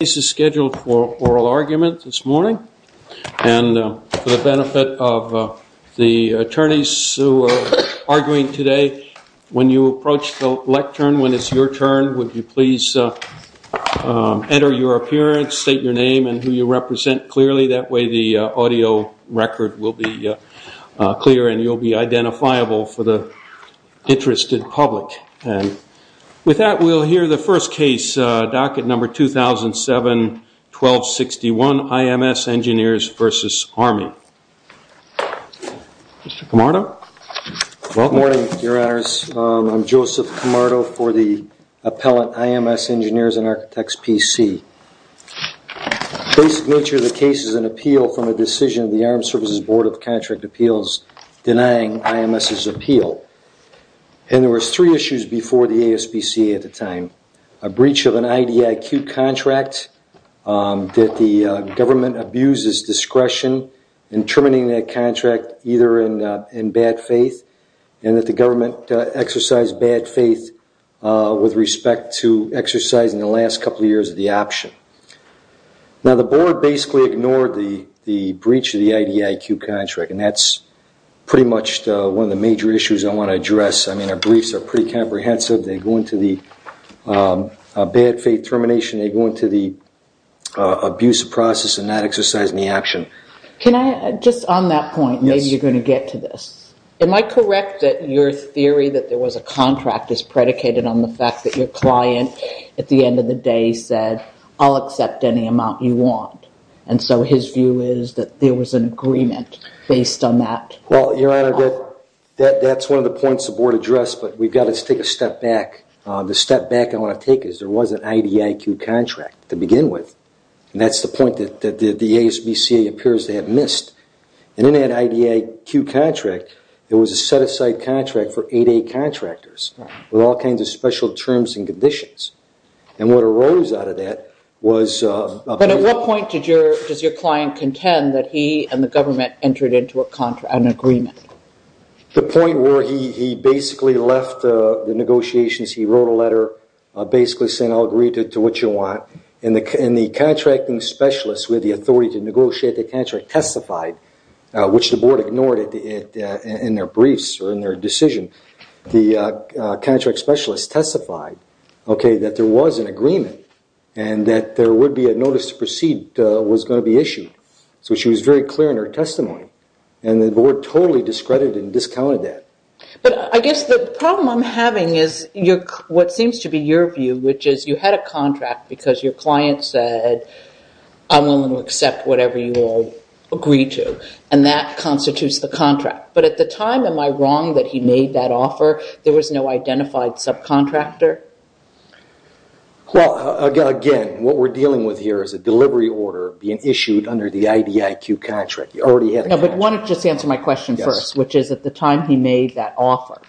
This is scheduled for oral argument this morning, and for the benefit of the attorneys who are arguing today, when you approach the lectern, when it's your turn, would you please enter your appearance, state your name, and who you represent clearly, that way the audio record will be clear and you'll be identifiable for the interested public. With that, we'll hear the first case, docket number 2007-1261, IMS Engineers v. Army. Mr. Camardo? Good morning, your honors. I'm Joseph Camardo for the appellate IMS Engineers and Architects PC. The basic nature of the case is an appeal from a decision of the Armed Services Board of Contract Appeals denying IMS's appeal. And there was three issues before the ASPC at the time. A breach of an IDIQ contract, that the government abuses discretion in terminating that contract either in bad faith, and that the government exercised bad faith with respect to exercising the last couple of years of the option. Now, the board basically ignored the breach of the IDIQ contract, and that's pretty much one of the major issues I want to address. I mean, our briefs are pretty comprehensive. They go into the bad faith termination. They go into the abuse of process and not exercising the option. Can I, just on that point, maybe you're going to get to this. Am I correct that your theory that there was a contract is predicated on the fact that your client at the end of the day said, I'll accept any amount you want? And so his view is that there was an agreement based on that? Well, your honor, that's one of the points the board addressed, but we've got to take a step back. The step back I want to take is there was an IDIQ contract to begin with. And that's the point that the ASPC appears to have missed. And in that IDIQ contract, there was a set-aside contract for 8A contractors with all kinds of special terms and conditions. And what arose out of that was a- But at what point does your client contend that he and the government entered into an agreement? The point where he basically left the negotiations. He wrote a letter basically saying, I'll agree to what you want. And the contracting specialist with the authority to negotiate the contract testified, which the board ignored in their briefs or in their decision. The contract specialist testified that there was an agreement and that there would be a notice to proceed was going to be issued. So she was very clear in her testimony. And the board totally discredited and discounted that. But I guess the problem I'm having is what seems to be your view, which is you had a contract because your client said, I'm willing to accept whatever you all agree to. And that constitutes the contract. But at the time, am I wrong that he made that offer? There was no identified subcontractor? Well, again, what we're dealing with here is a delivery order being issued under the IDIQ contract. You already had a contract. No, but why don't you just answer my question first, which is at the time he made that offer,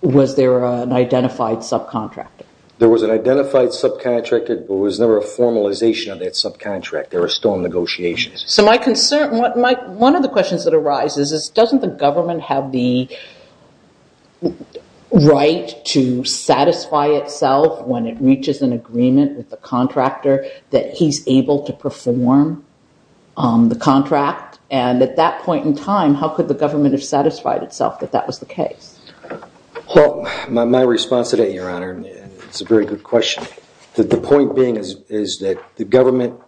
was there an identified subcontractor? There was an identified subcontractor, but there was never a formalization of that subcontractor. There were storm negotiations. So my concern, one of the questions that arises is doesn't the government have the right to satisfy itself when it reaches an agreement with the contractor that he's able to perform the contract? And at that point in time, how could the government have satisfied itself that that was the case? Well, my response to that, Your Honor, is a very good question. The point being is that the government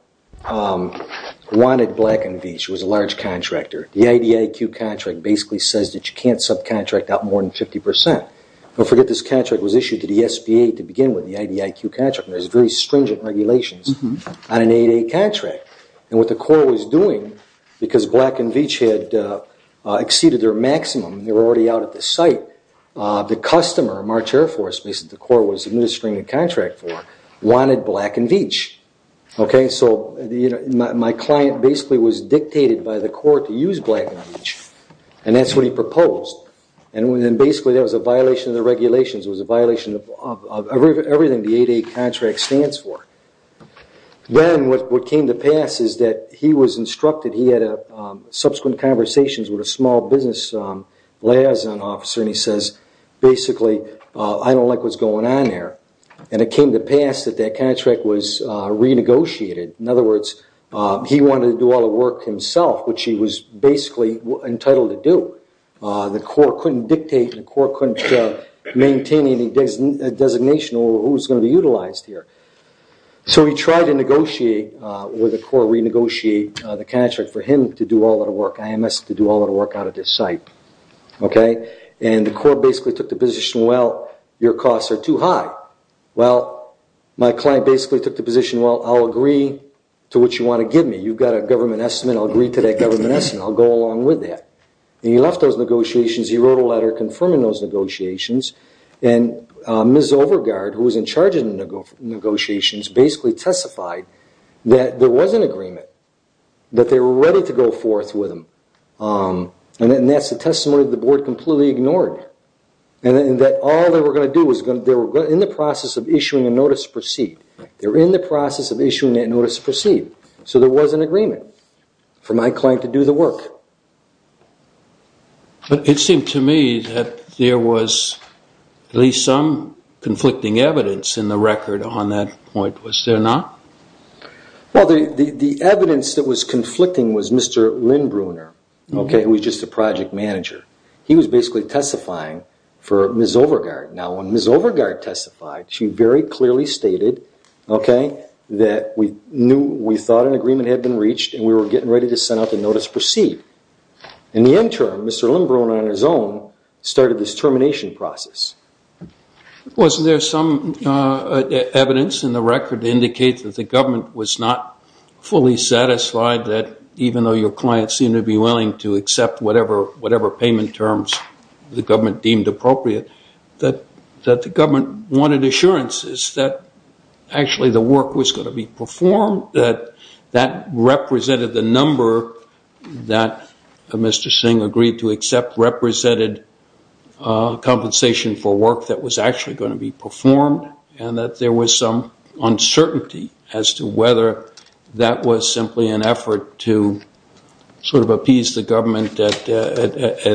wanted Black & Veatch. It was a large contractor. The IDIQ contract basically says that you can't subcontract out more than 50%. Don't forget this contract was issued to the SBA to begin with, the IDIQ contract. There's very stringent regulations on an 8A contract. And what the Corps was doing, because Black & Veatch had exceeded their maximum, they were already out at the site, the customer, March Air Force, basically the Corps was administering the contract for, wanted Black & Veatch. So my client basically was dictated by the Corps to use Black & Veatch, and that's what he proposed. And basically that was a violation of the regulations. It was a violation of everything the 8A contract stands for. Then what came to pass is that he was instructed, he had subsequent conversations with a small business liaison officer, and he says, basically, I don't like what's going on there. And it came to pass that that contract was renegotiated. In other words, he wanted to do all the work himself, which he was basically entitled to do. The Corps couldn't dictate, the Corps couldn't maintain any designation over who was going to be utilized here. So he tried to negotiate with the Corps, renegotiate the contract for him to do all the work, IMS to do all the work out at this site. And the Corps basically took the position, well, your costs are too high. Well, my client basically took the position, well, I'll agree to what you want to give me. You've got a government estimate. I'll agree to that government estimate. And I'll go along with that. And he left those negotiations. He wrote a letter confirming those negotiations. And Ms. Overgaard, who was in charge of the negotiations, basically testified that there was an agreement, that they were ready to go forth with him. And that's the testimony that the Board completely ignored, and that all they were going to do was they were in the process of issuing a notice to proceed. They were in the process of issuing that notice to proceed. So there was an agreement for my client to do the work. But it seemed to me that there was at least some conflicting evidence in the record on that point. Was there not? Well, the evidence that was conflicting was Mr. Lynn Bruner, who was just a project manager. He was basically testifying for Ms. Overgaard. Now, when Ms. Overgaard testified, she very clearly stated that we thought an agreement had been reached and we were getting ready to send out the notice to proceed. In the interim, Mr. Lynn Bruner, on his own, started this termination process. Wasn't there some evidence in the record to indicate that the government was not fully satisfied that, even though your client seemed to be willing to accept whatever payment terms the government deemed appropriate, that the government wanted assurances that actually the work was going to be performed, that that represented the number that Mr. Singh agreed to accept, represented compensation for work that was actually going to be performed, and that there was some uncertainty as to whether that was simply an effort to sort of appease the government at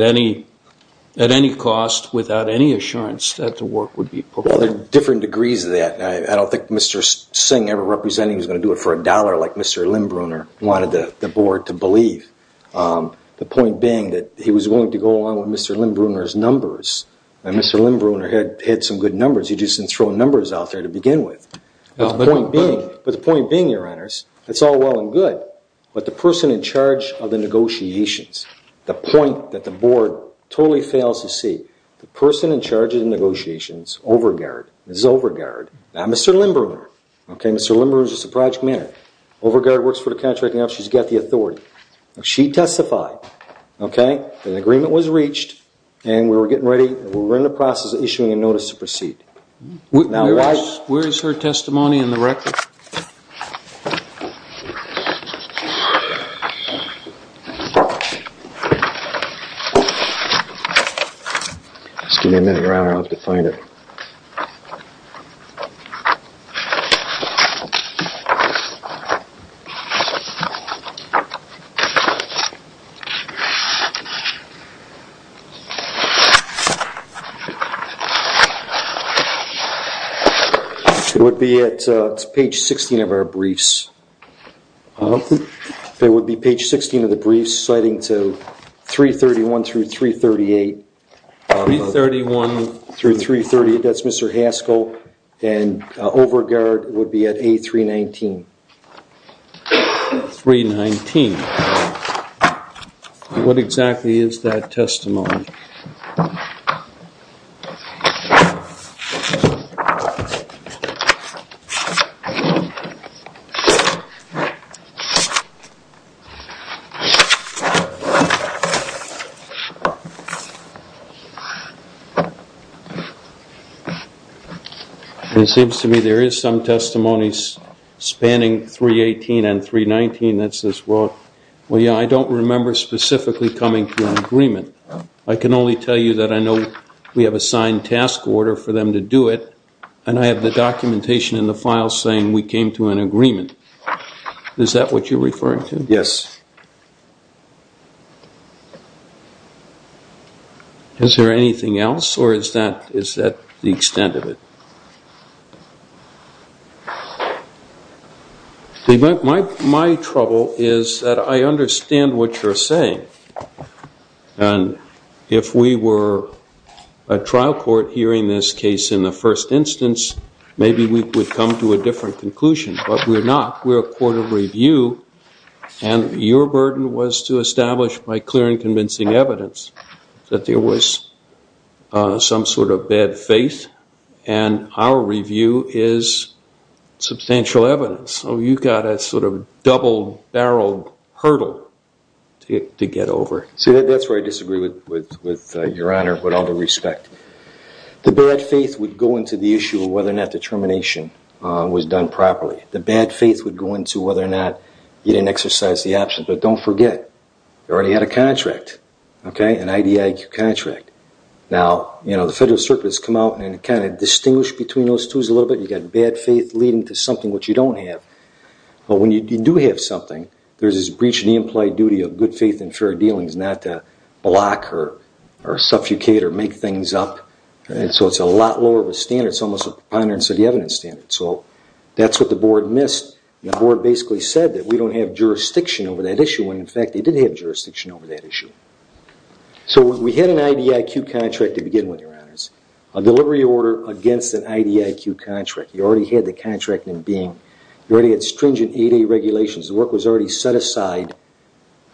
any cost without any assurance that the work would be performed? Well, there are different degrees of that. I don't think Mr. Singh ever represented he was going to do it for a dollar like Mr. Lynn Bruner wanted the Board to believe. The point being that he was willing to go along with Mr. Lynn Bruner's numbers, and Mr. Lynn Bruner had some good numbers. He just didn't throw numbers out there to begin with. But the point being, Your Honors, it's all well and good, but the person in charge of the negotiations, the point that the Board totally fails to see, the person in charge of the negotiations, Overgaard, this is Overgaard, not Mr. Lynn Bruner. Mr. Lynn Bruner is just a project manager. Overgaard works for the contract now. She's got the authority. She testified. An agreement was reached, and we were getting ready. We were in the process of issuing a notice to proceed. Where is her testimony in the record? Just give me a minute around. I'll have to find it. It would be at page 16 of our briefs. It would be page 16 of the briefs citing to 331 through 338. 331 through 338. That's Mr. Haskell, and Overgaard would be at A319. 319. What exactly is that testimony? Okay. It seems to me there is some testimony spanning 318 and 319 that says, well, yeah, I don't remember specifically coming to an agreement. I can only tell you that I know we have a signed task order for them to do it, and I have the documentation in the file saying we came to an agreement. Is that what you're referring to? Yes. Is there anything else, or is that the extent of it? My trouble is that I understand what you're saying. And if we were a trial court hearing this case in the first instance, maybe we would come to a different conclusion. But we're not. We're a court of review, and your burden was to establish, by clear and convincing evidence, that there was some sort of bad faith, and our review is substantial evidence. So you've got a sort of double-barreled hurdle to get over. See, that's where I disagree with Your Honor with all due respect. The bad faith would go into the issue of whether or not the termination was done properly. The bad faith would go into whether or not you didn't exercise the option. But don't forget, you already had a contract, an IDIQ contract. Now, you know, the Federal Circuit has come out and kind of distinguished between those two a little bit. You've got bad faith leading to something which you don't have. But when you do have something, there's this breach of the implied duty of good faith and fair dealings, not to block or suffocate or make things up. So it's a lot lower of a standard. It's almost a preponderance of the evidence standard. So that's what the Board missed. The Board basically said that we don't have jurisdiction over that issue, when, in fact, they did have jurisdiction over that issue. So we had an IDIQ contract to begin with, Your Honors, a delivery order against an IDIQ contract. You already had the contract in being. You already had stringent 8A regulations. The work was already set aside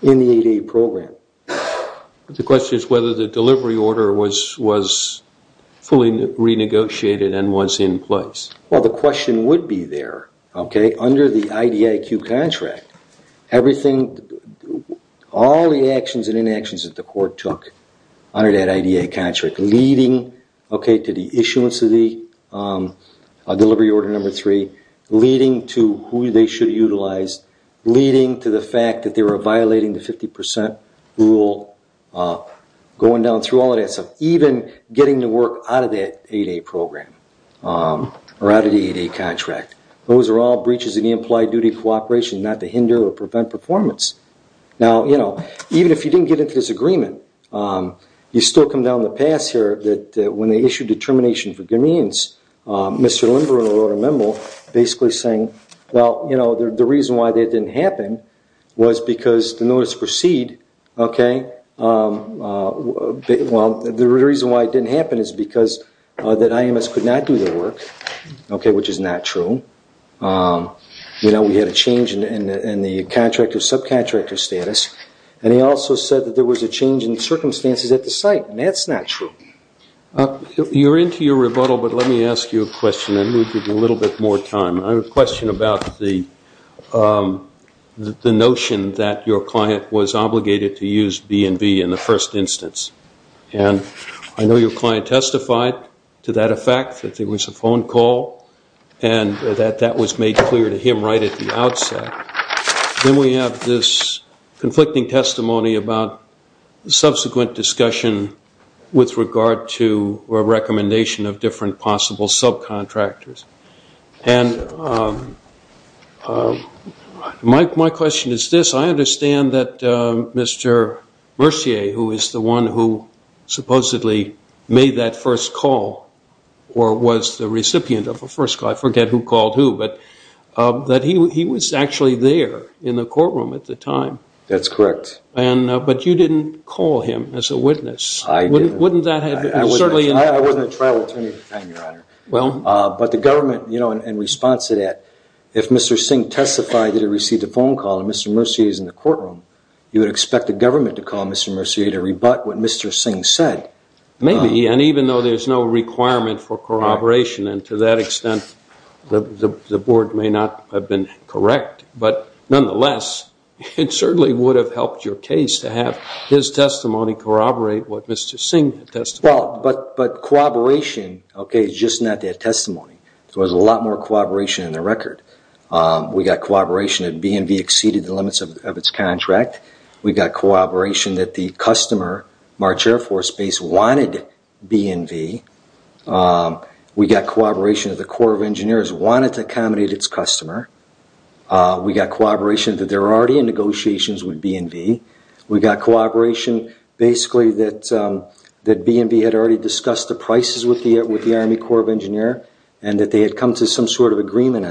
in the 8A program. The question is whether the delivery order was fully renegotiated and was in place. Well, the question would be there, okay, under the IDIQ contract. Everything, all the actions and inactions that the court took under that IDIQ contract, leading, okay, to the issuance of the delivery order number three, leading to who they should utilize, leading to the fact that they were violating the 50% rule, going down through all of that stuff, even getting the work out of that 8A program or out of the 8A contract. Those are all breaches of the implied duty of cooperation not to hinder or prevent performance. Now, you know, even if you didn't get into this agreement, you still come down the path here that when they issued determination for guineans, Mr. Lindgren wrote a memo basically saying, well, you know, the reason why that didn't happen was because the notice proceed, okay, well, the reason why it didn't happen is because that IMS could not do their work, okay, which is not true. You know, we had a change in the contractor, subcontractor status, and he also said that there was a change in circumstances at the site, and that's not true. You're into your rebuttal, but let me ask you a question, and we'll give you a little bit more time. I have a question about the notion that your client was obligated to use B&B in the first instance, and I know your client testified to that effect, that there was a phone call, and that that was made clear to him right at the outset. Then we have this conflicting testimony about subsequent discussion with regard to a recommendation of different possible subcontractors. And my question is this. I understand that Mr. Mercier, who is the one who supposedly made that first call or was the recipient of the first call, I forget who called who, but he was actually there in the courtroom at the time. That's correct. But you didn't call him as a witness. I didn't. I wasn't a trial attorney at the time, Your Honor. But the government, you know, in response to that, if Mr. Singh testified that he received a phone call and Mr. Mercier is in the courtroom, you would expect the government to call Mr. Mercier to rebut what Mr. Singh said. Maybe, and even though there's no requirement for corroboration, and to that extent the Board may not have been correct. But nonetheless, it certainly would have helped your case to have his testimony corroborate what Mr. Singh testified. But corroboration, okay, is just not that testimony. So there's a lot more corroboration in the record. We got corroboration that B&V exceeded the limits of its contract. We got corroboration that the customer, March Air Force Base, wanted B&V. We got corroboration that the Corps of Engineers wanted to accommodate its customer. We got corroboration that they're already in negotiations with B&V. We got corroboration basically that B&V had already discussed the prices with the Army Corps of Engineers, and that they had come to some sort of agreement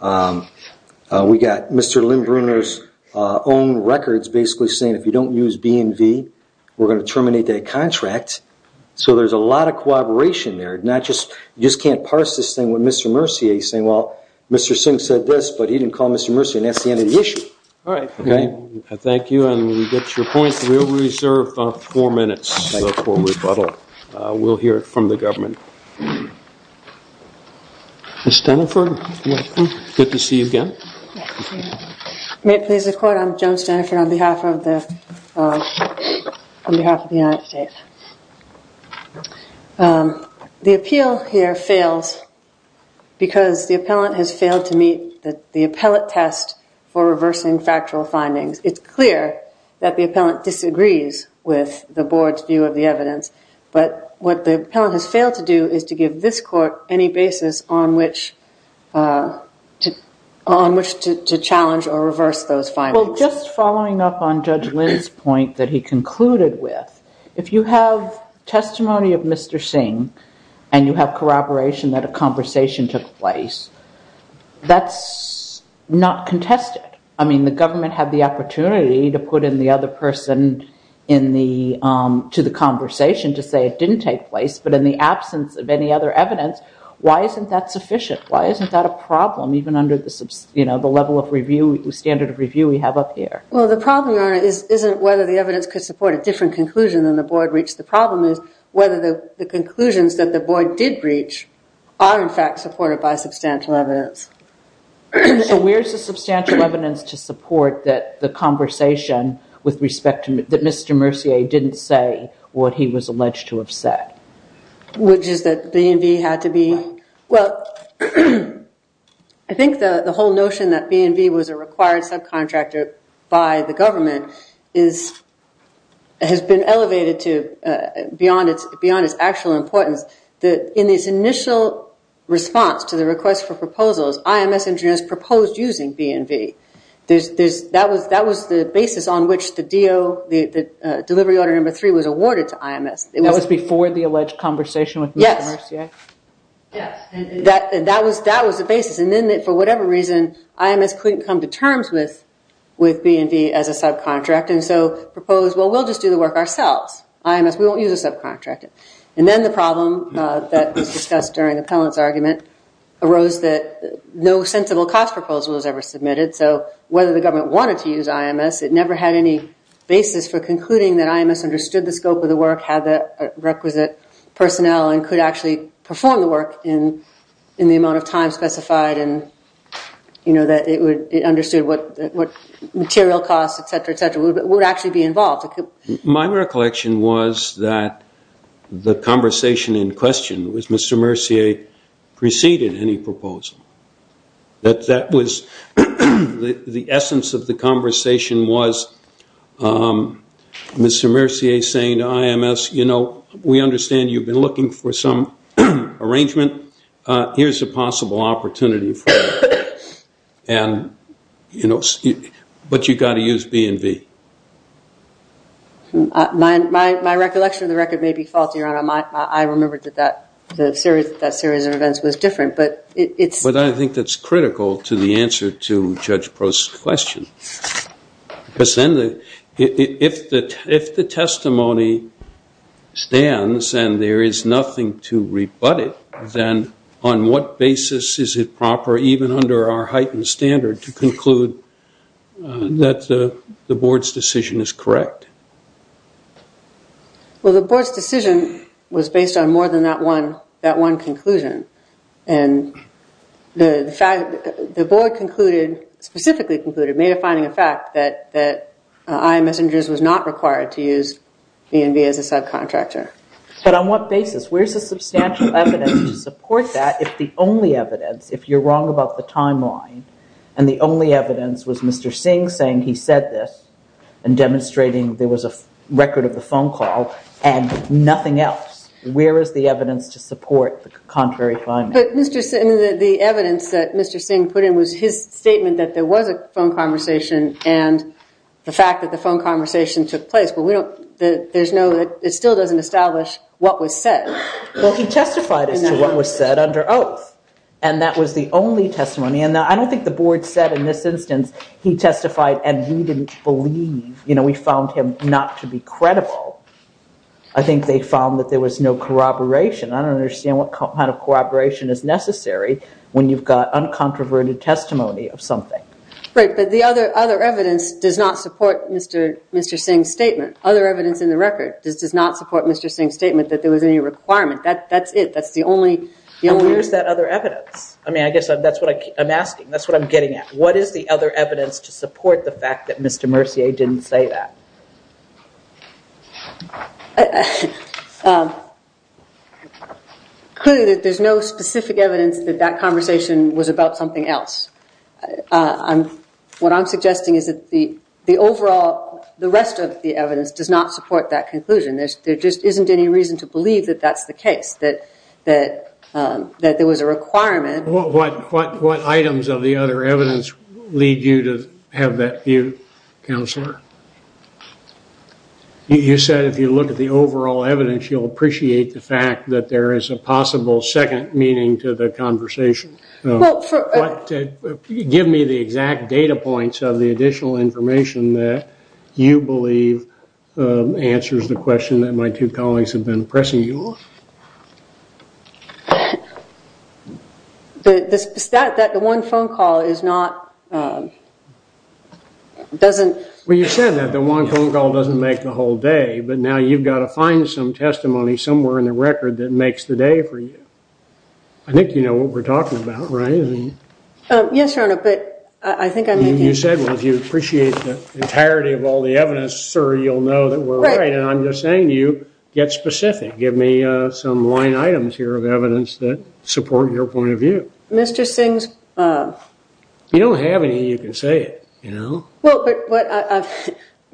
on it. We got Mr. Lindbrunner's own records basically saying if you don't use B&V, we're going to terminate that contract. So there's a lot of corroboration there. You just can't parse this thing with Mr. Mercier saying, well, Mr. Singh said this, but he didn't call Mr. Mercier, and that's the end of the issue. All right. Thank you. And we get your point. We'll reserve four minutes for rebuttal. We'll hear from the government. Ms. Steniford, good to see you again. May it please the Court, I'm Joan Steniford on behalf of the United States. The appeal here fails because the appellant has failed to meet the appellate test for reversing factual findings. It's clear that the appellant disagrees with the Board's view of the evidence, but what the appellant has failed to do is to give this Court any basis on which to challenge or reverse those findings. Well, just following up on Judge Lind's point that he concluded with, if you have testimony of Mr. Singh and you have corroboration that a conversation took place, that's not contested. I mean, the government had the opportunity to put in the other person to the conversation to say it didn't take place, but in the absence of any other evidence, why isn't that sufficient? Why isn't that a problem, even under the standard of review we have up here? Well, the problem, Your Honor, isn't whether the evidence could support a different conclusion than the Board reached. The problem is whether the conclusions that the Board did reach are, in fact, supported by substantial evidence. So where's the substantial evidence to support that the conversation with respect to Mr. Mercier didn't say what he was alleged to have said? Which is that B&V had to be... Well, I think the whole notion that B&V was a required subcontractor by the government has been elevated beyond its actual importance. In its initial response to the request for proposals, IMS engineers proposed using B&V. That was the basis on which the delivery order number three was awarded to IMS. That was before the alleged conversation with Mr. Mercier? Yes. That was the basis. And then, for whatever reason, IMS couldn't come to terms with B&V as a subcontract, and so proposed, well, we'll just do the work ourselves. IMS, we won't use a subcontractor. And then the problem that was discussed during the penalty argument arose that no sensible cost proposal was ever submitted. So whether the government wanted to use IMS, it never had any basis for concluding that IMS understood the scope of the work, had the requisite personnel, and could actually perform the work in the amount of time specified, and that it understood what material costs, et cetera, et cetera, would actually be involved. My recollection was that the conversation in question was Mr. Mercier preceded any proposal. That was the essence of the conversation was Mr. Mercier saying to IMS, you know, we understand you've been looking for some arrangement. Here's a possible opportunity for you, but you've got to use B&V. My recollection of the record may be faulty, Your Honor. I remembered that that series of events was different. But I think that's critical to the answer to Judge Prost's question. Because then if the testimony stands and there is nothing to rebut it, then on what basis is it proper even under our heightened standard to conclude that the Board's decision is correct? Well, the Board's decision was based on more than that one conclusion. And the fact that the Board concluded, specifically concluded, made a finding of fact that IMS was not required to use B&V as a subcontractor. But on what basis? Where's the substantial evidence to support that if the only evidence, if you're wrong about the timeline, and the only evidence was Mr. Singh saying he said this and demonstrating there was a record of the phone call and nothing else, where is the evidence to support the contrary finding? But the evidence that Mr. Singh put in was his statement that there was a phone conversation and the fact that the phone conversation took place. But it still doesn't establish what was said. Well, he testified as to what was said under oath. And that was the only testimony. And I don't think the Board said in this instance he testified and he didn't believe. We found him not to be credible. I think they found that there was no corroboration. I don't understand what kind of corroboration is necessary when you've got uncontroverted testimony of something. Right, but the other evidence does not support Mr. Singh's statement. Other evidence in the record does not support Mr. Singh's statement that there was any requirement. That's it. That's the only... And where's that other evidence? I mean, I guess that's what I'm asking. That's what I'm getting at. What is the other evidence to support the fact that Mr. Mercier didn't say that? Clearly, there's no specific evidence that that conversation was about something else. What I'm suggesting is that the overall... the rest of the evidence does not support that conclusion. There just isn't any reason to believe that that's the case, that there was a requirement. What items of the other evidence lead you to have that view, Counselor? You said if you look at the overall evidence, you'll appreciate the fact that there is a possible second meaning to the conversation. Give me the exact data points of the additional information that you believe answers the question that my two colleagues have been pressing you on. That the one phone call is not... doesn't... Well, you said that the one phone call doesn't make the whole day, but now you've got to find some testimony somewhere in the record that makes the day for you. I think you know what we're talking about, right? Yes, Your Honor, but I think I may be... You said if you appreciate the entirety of all the evidence, sir, you'll know that we're right. And I'm just saying to you, get specific. Give me some line items here of evidence that support your point of view. Mr. Singh's... You don't have any, you can say it, you know?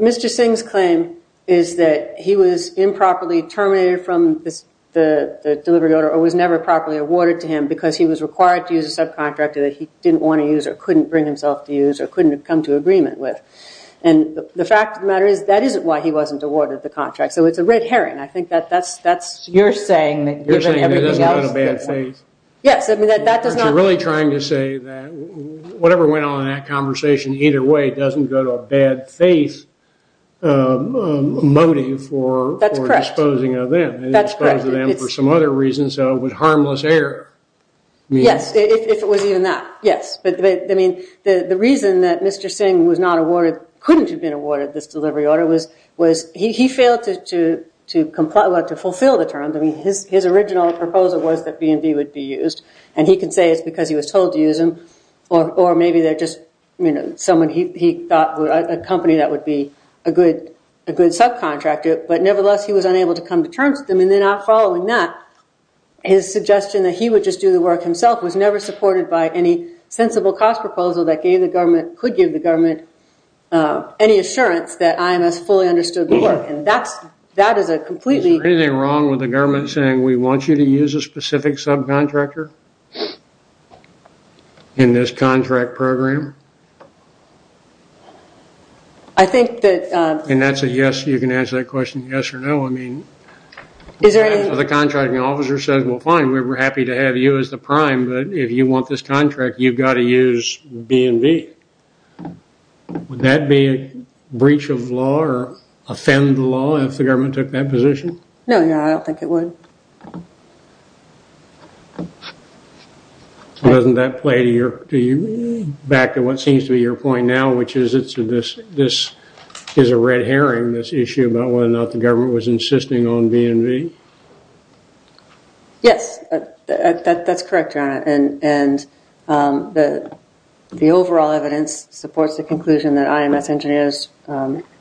Mr. Singh's claim is that he was improperly terminated from the delivery order or was never properly awarded to him because he was required to use a subcontractor that he didn't want to use or couldn't bring himself to use or couldn't have come to agreement with. And the fact of the matter is that isn't why he wasn't awarded the contract. So it's a red herring. I think that's your saying. You're saying he doesn't have a bad faith. Yes, I mean that does not... But you're really trying to say that whatever went on in that conversation, either way it doesn't go to a bad faith motive for disposing of them. That's correct. It disposes of them for some other reason, so it was harmless error. Yes, if it was even that, yes. But, I mean, the reason that Mr. Singh was not awarded, couldn't have been awarded this delivery order was he failed to fulfill the terms. I mean, his original proposal was that B&B would be used, and he can say it's because he was told to use them or maybe they're just someone he thought, a company that would be a good subcontractor, but nevertheless he was unable to come to terms with them, and then following that his suggestion that he would just do the work himself was never supported by any sensible cost proposal that gave the government, any assurance that IMS fully understood the work, and that is a completely... Is there anything wrong with the government saying we want you to use a specific subcontractor in this contract program? I think that... And that's a yes, you can answer that question yes or no, I mean... Is there any... The contracting officer says, well, fine, we're happy to have you as the prime, but if you want this contract, you've got to use B&B. Would that be a breach of law or offend the law if the government took that position? No, I don't think it would. Doesn't that play to your... Back to what seems to be your point now, which is this is a red herring, this issue about whether or not the government was insisting on B&B? Yes, that's correct, Joanna, and the overall evidence supports the conclusion that IMS engineers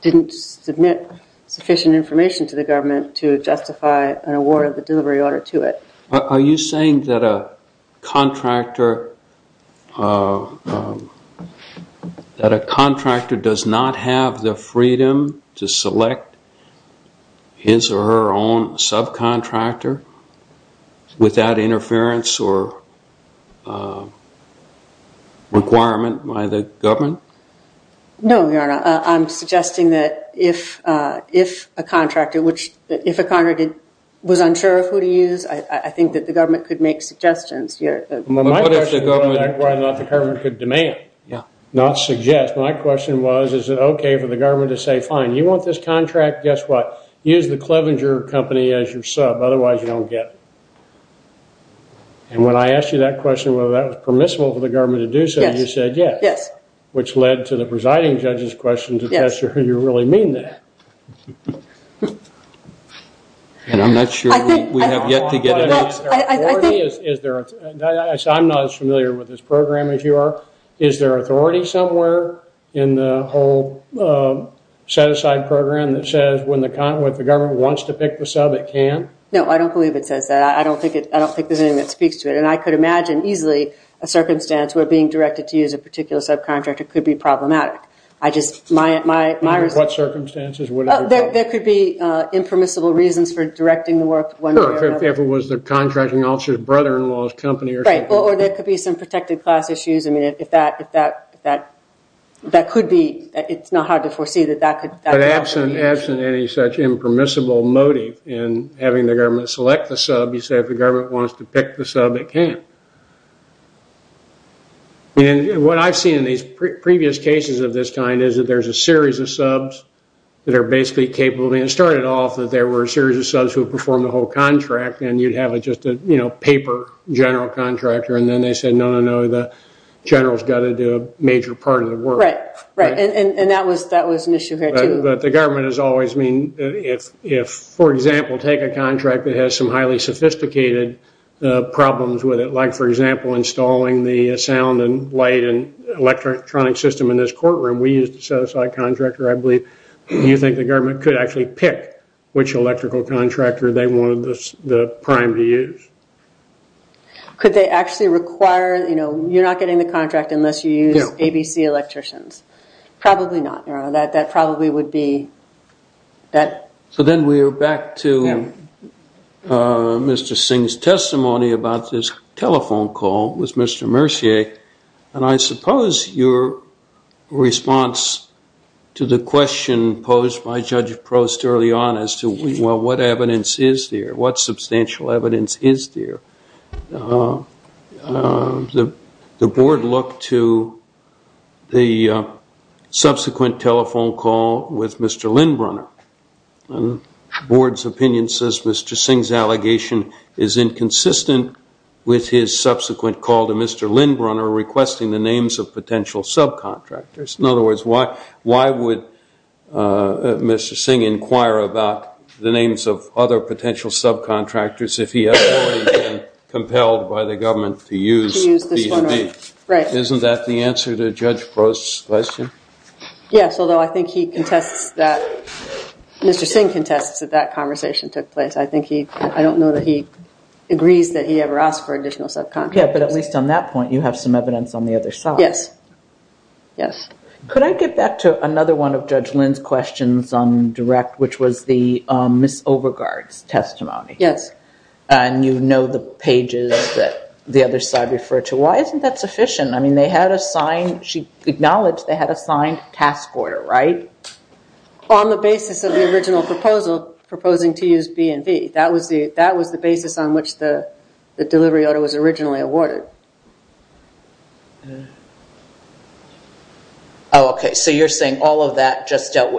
didn't submit sufficient information to the government to justify an award of the delivery order to it. Are you saying that a contractor does not have the freedom to select his or her own subcontractor without interference or requirement by the government? No, Joanna, I'm suggesting that if a contractor was unsure of who to use, I think that the government could make suggestions here. My question is whether or not the government could demand, not suggest. My question was, is it okay for the government to say, fine, you want this contract, guess what? Use the Clevenger Company as your sub, otherwise you don't get it. And when I asked you that question, whether that was permissible for the government to do so, you said yes. Yes. Which led to the presiding judge's question to the question, do you really mean that? And I'm not sure we have yet to get it. I'm not as familiar with this program as you are. Is there authority somewhere in the whole set-aside program that says when the government wants to pick the sub, it can? No, I don't believe it says that. I don't think there's anything that speaks to it. And I could imagine easily a circumstance where being directed to use a particular subcontractor could be problematic. What circumstances? There could be impermissible reasons for directing the work. If it was the contracting officer's brother-in-law's company or something. Or there could be some protected class issues. I mean, if that could be, it's not hard to foresee that that could be. But absent any such impermissible motive in having the government select the sub, you say if the government wants to pick the sub, it can. And what I've seen in these previous cases of this kind is that there's a series of subs that are basically capable. It started off that there were a series of subs who performed the whole contract, and you'd have just a paper general contractor. And then they said, no, no, no, the general's got to do a major part of the work. Right, right. And that was an issue here, too. But the government has always, I mean, if, for example, take a contract that has some highly sophisticated problems with it, like, for example, installing the sound and light and electronic system in this courtroom, we used a set-aside contractor, I believe. Do you think the government could actually pick which electrical contractor they wanted the prime to use? Could they actually require, you know, you're not getting the contract unless you use ABC electricians. Probably not. That probably would be that. So then we are back to Mr. Singh's testimony about this telephone call with Mr. Mercier. And I suppose your response to the question posed by Judge Prost early on as to what evidence is there, what substantial evidence is there, the board looked to the subsequent telephone call with Mr. Lindbrunner. The board's opinion says Mr. Singh's allegation is inconsistent with his subsequent call to Mr. Lindbrunner requesting the names of potential subcontractors. In other words, why would Mr. Singh inquire about the names of other potential subcontractors if he had already been compelled by the government to use B&B? Isn't that the answer to Judge Prost's question? Yes, although I think he contests that Mr. Singh contests that that conversation took place. I don't know that he agrees that he ever asked for additional subcontractors. Yes, but at least on that point you have some evidence on the other side. Yes, yes. Could I get back to another one of Judge Lind's questions on direct, which was the Miss Overgaard's testimony? Yes. And you know the pages that the other side referred to. Why isn't that sufficient? I mean, they had a signed – she acknowledged they had a signed task order, right? On the basis of the original proposal proposing to use B&B. That was the basis on which the delivery order was originally awarded. Oh, okay. So you're saying all of that just – that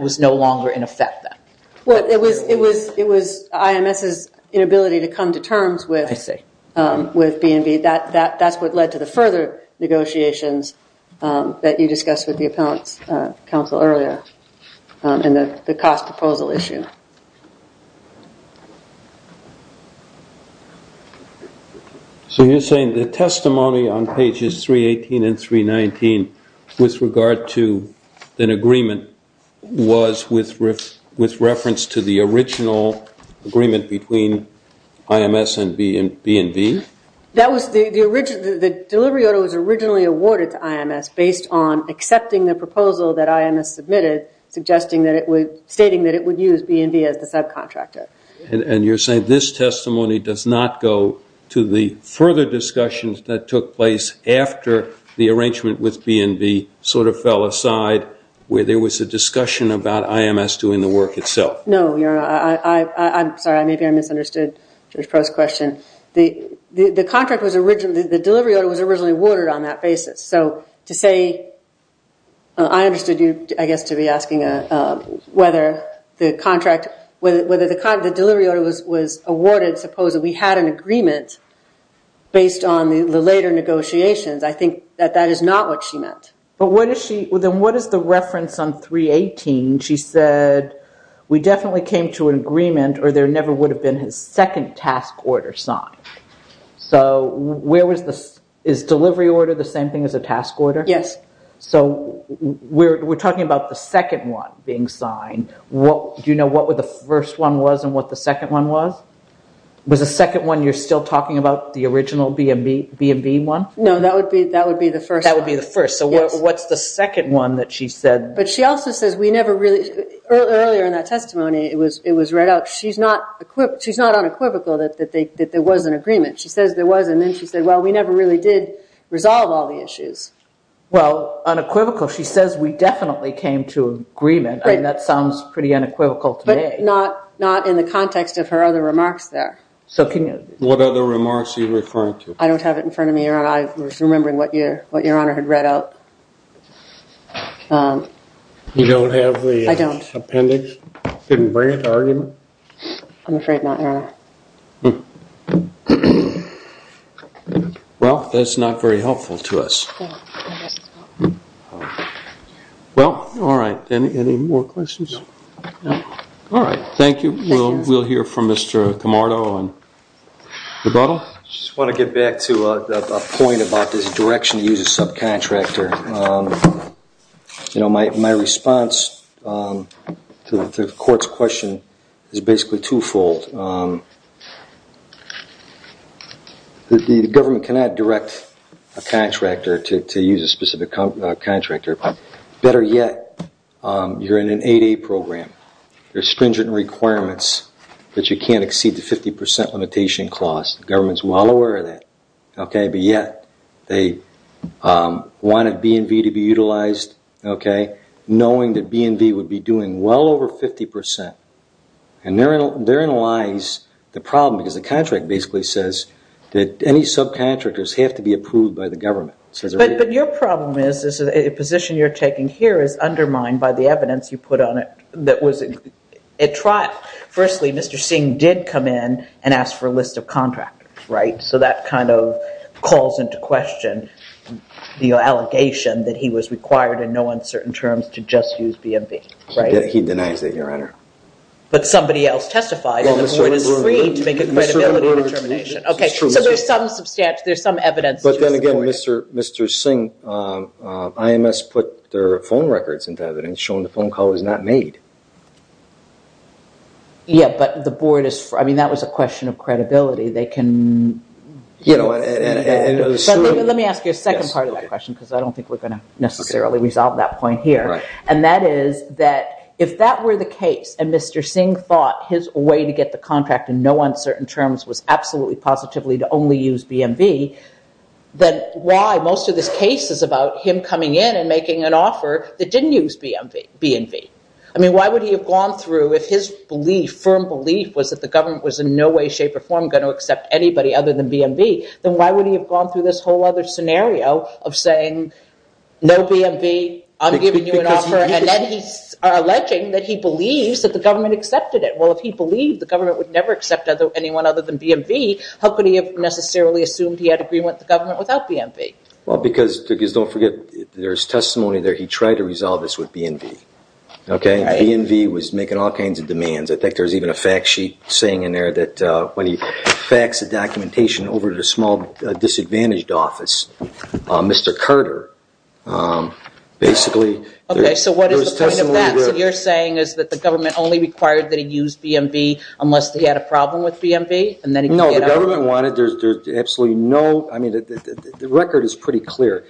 was no longer in effect then? Well, it was IMS's inability to come to terms with B&B. That's what led to the further negotiations that you discussed with the Appellant's Council earlier and the cost proposal issue. So you're saying the testimony on pages 318 and 319 with regard to an agreement was with reference to the original agreement between IMS and B&B? That was the – the delivery order was originally awarded to IMS based on accepting the proposal that IMS submitted, suggesting that it would – stating that it would use B&B as the subcontractor. And you're saying this testimony does not go to the further discussions that took place after the arrangement with B&B sort of fell aside where there was a discussion about IMS doing the work itself? No. I'm sorry. Maybe I misunderstood Judge Proh's question. The contract was – the delivery order was originally awarded on that basis. So to say – I understood you, I guess, to be asking whether the contract – whether the delivery order was awarded, suppose that we had an agreement based on the later negotiations. I think that that is not what she meant. But what is she – then what is the reference on 318? She said, we definitely came to an agreement or there never would have been a second task order signed. So where was the – is delivery order the same thing as a task order? Yes. So we're talking about the second one being signed. Do you know what the first one was and what the second one was? Was the second one you're still talking about the original B&B one? No, that would be the first one. That would be the first. So what's the second one that she said? But she also says we never really – earlier in that testimony, it was read out – she's not unequivocal that there was an agreement. She says there was, and then she said, well, we never really did resolve all the issues. Well, unequivocal, she says we definitely came to an agreement. I mean, that sounds pretty unequivocal today. But not in the context of her other remarks there. So can you – What other remarks are you referring to? I don't have it in front of me, Your Honor. I was remembering what Your Honor had read out. You don't have the appendix? I don't. You don't have the appendix? Didn't bring it to argument? I'm afraid not, Your Honor. Well, that's not very helpful to us. Well, all right. Any more questions? No. All right. Thank you. We'll hear from Mr. Camardo. Rebuttal? I just want to get back to a point about this direction to use a subcontractor. You know, my response to the court's question is basically twofold. The government cannot direct a contractor to use a specific contractor. Better yet, you're in an 8A program. There are stringent requirements that you can't exceed the 50 percent limitation cost. The government is well aware of that, okay? Better yet, they wanted B&V to be utilized, okay, knowing that B&V would be doing well over 50 percent. And therein lies the problem because the contract basically says that any subcontractors have to be approved by the government. But your problem is a position you're taking here is undermined by the evidence you put on it that was at trial. Firstly, Mr. Singh did come in and ask for a list of contractors, right? So that kind of calls into question the allegation that he was required in no uncertain terms to just use B&V, right? He denies that, Your Honor. But somebody else testified and the board is free to make a credibility determination. Okay, so there's some evidence. But then again, Mr. Singh, IMS put their phone records into evidence showing the phone call was not made. Yeah, but the board is – I mean, that was a question of credibility. They can – let me ask you a second part of that question because I don't think we're going to necessarily resolve that point here. And that is that if that were the case and Mr. Singh thought his way to get the contract in no uncertain terms was absolutely positively to only use B&V, then why most of this case is about him coming in and making an offer that didn't use B&V? I mean, why would he have gone through if his belief, firm belief, was that the government was in no way, shape, or form going to accept anybody other than B&V, then why would he have gone through this whole other scenario of saying no B&V, I'm giving you an offer, and then he's alleging that he believes that the government accepted it? Well, if he believed the government would never accept anyone other than B&V, how could he have necessarily assumed he had agreement with the government without B&V? Well, because, don't forget, there's testimony there he tried to resolve this with B&V, okay? B&V was making all kinds of demands. I think there's even a fact sheet saying in there that when he faxed the documentation over to the small disadvantaged office, Mr. Carter, basically – Okay, so what is the point of that? So what you're saying is that the government only required that he use B&V unless he had a problem with B&V? No, the government wanted – there's absolutely no – I mean, the record is pretty clear.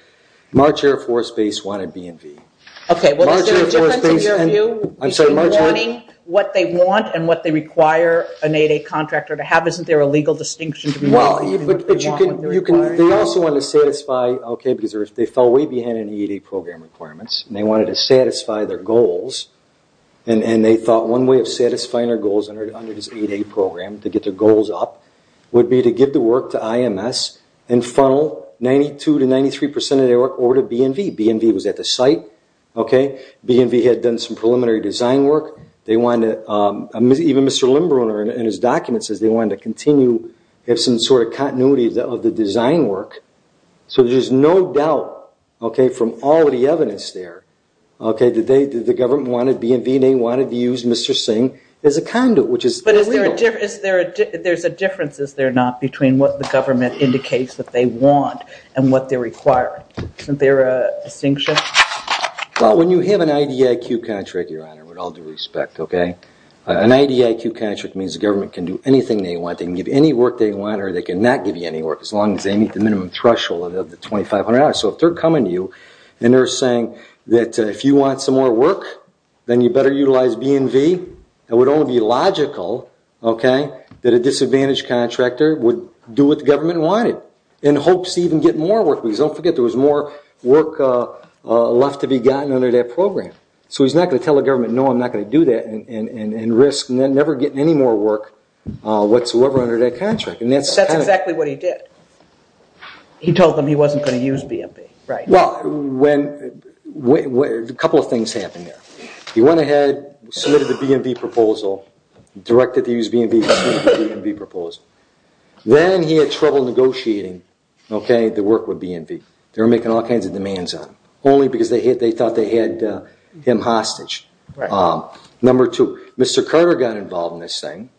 March Air Force Base wanted B&V. Okay, well, is there a difference in your view between wanting what they want and what they require an 8A contractor to have? Isn't there a legal distinction between what they want and what they require? They also wanted to satisfy – okay, because they fell way behind in the 8A program requirements, and they wanted to satisfy their goals, and they thought one way of satisfying their goals under this 8A program to get their goals up would be to give the work to IMS and funnel 92% to 93% of their work over to B&V. B&V was at the site, okay? B&V had done some preliminary design work. They wanted to – even Mr. Limbrunner in his document says they wanted to continue, have some sort of continuity of the design work. So there's no doubt, okay, from all of the evidence there, okay, that the government wanted B&V. They wanted to use Mr. Singh as a conduit, which is – But is there a – there's a difference, is there not, between what the government indicates that they want and what they require? Isn't there a distinction? Well, when you have an IDIQ contract, Your Honor, with all due respect, okay, an IDIQ contract means the government can do anything they want. They can give you any work they want or they can not give you any work as long as they meet the minimum threshold of the $2,500. So if they're coming to you and they're saying that if you want some more work, then you better utilize B&V, it would only be logical, okay, that a disadvantaged contractor would do what the government wanted in hopes to even get more work because don't forget there was more work left to be gotten under that program. So he's not going to tell the government, no, I'm not going to do that and risk never getting any more work whatsoever under that contract. That's exactly what he did. He told them he wasn't going to use B&V, right. Well, when – a couple of things happened there. He went ahead, submitted the B&V proposal, directed to use B&V, submitted the B&V proposal. Then he had trouble negotiating, okay, the work with B&V. They were making all kinds of demands on him only because they thought they had him hostage. Number two, Mr. Carter got involved in this thing,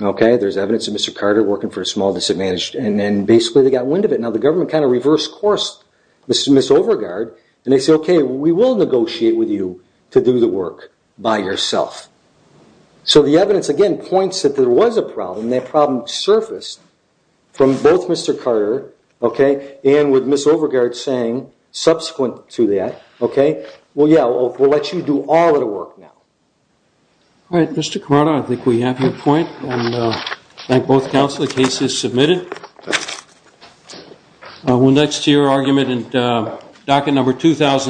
okay. There's evidence of Mr. Carter working for a small disadvantaged and then basically they got wind of it. Now the government kind of reverse-coursed Miss Overgaard and they said, okay, we will negotiate with you to do the work by yourself. So the evidence, again, points that there was a problem. And that problem surfaced from both Mr. Carter, okay, and with Miss Overgaard saying subsequent to that, okay, well, yeah, we'll let you do all of the work now. All right, Mr. Carter, I think we have your point. And I thank both counsel. The case is submitted. We'll next hear your argument in docket number 2,000.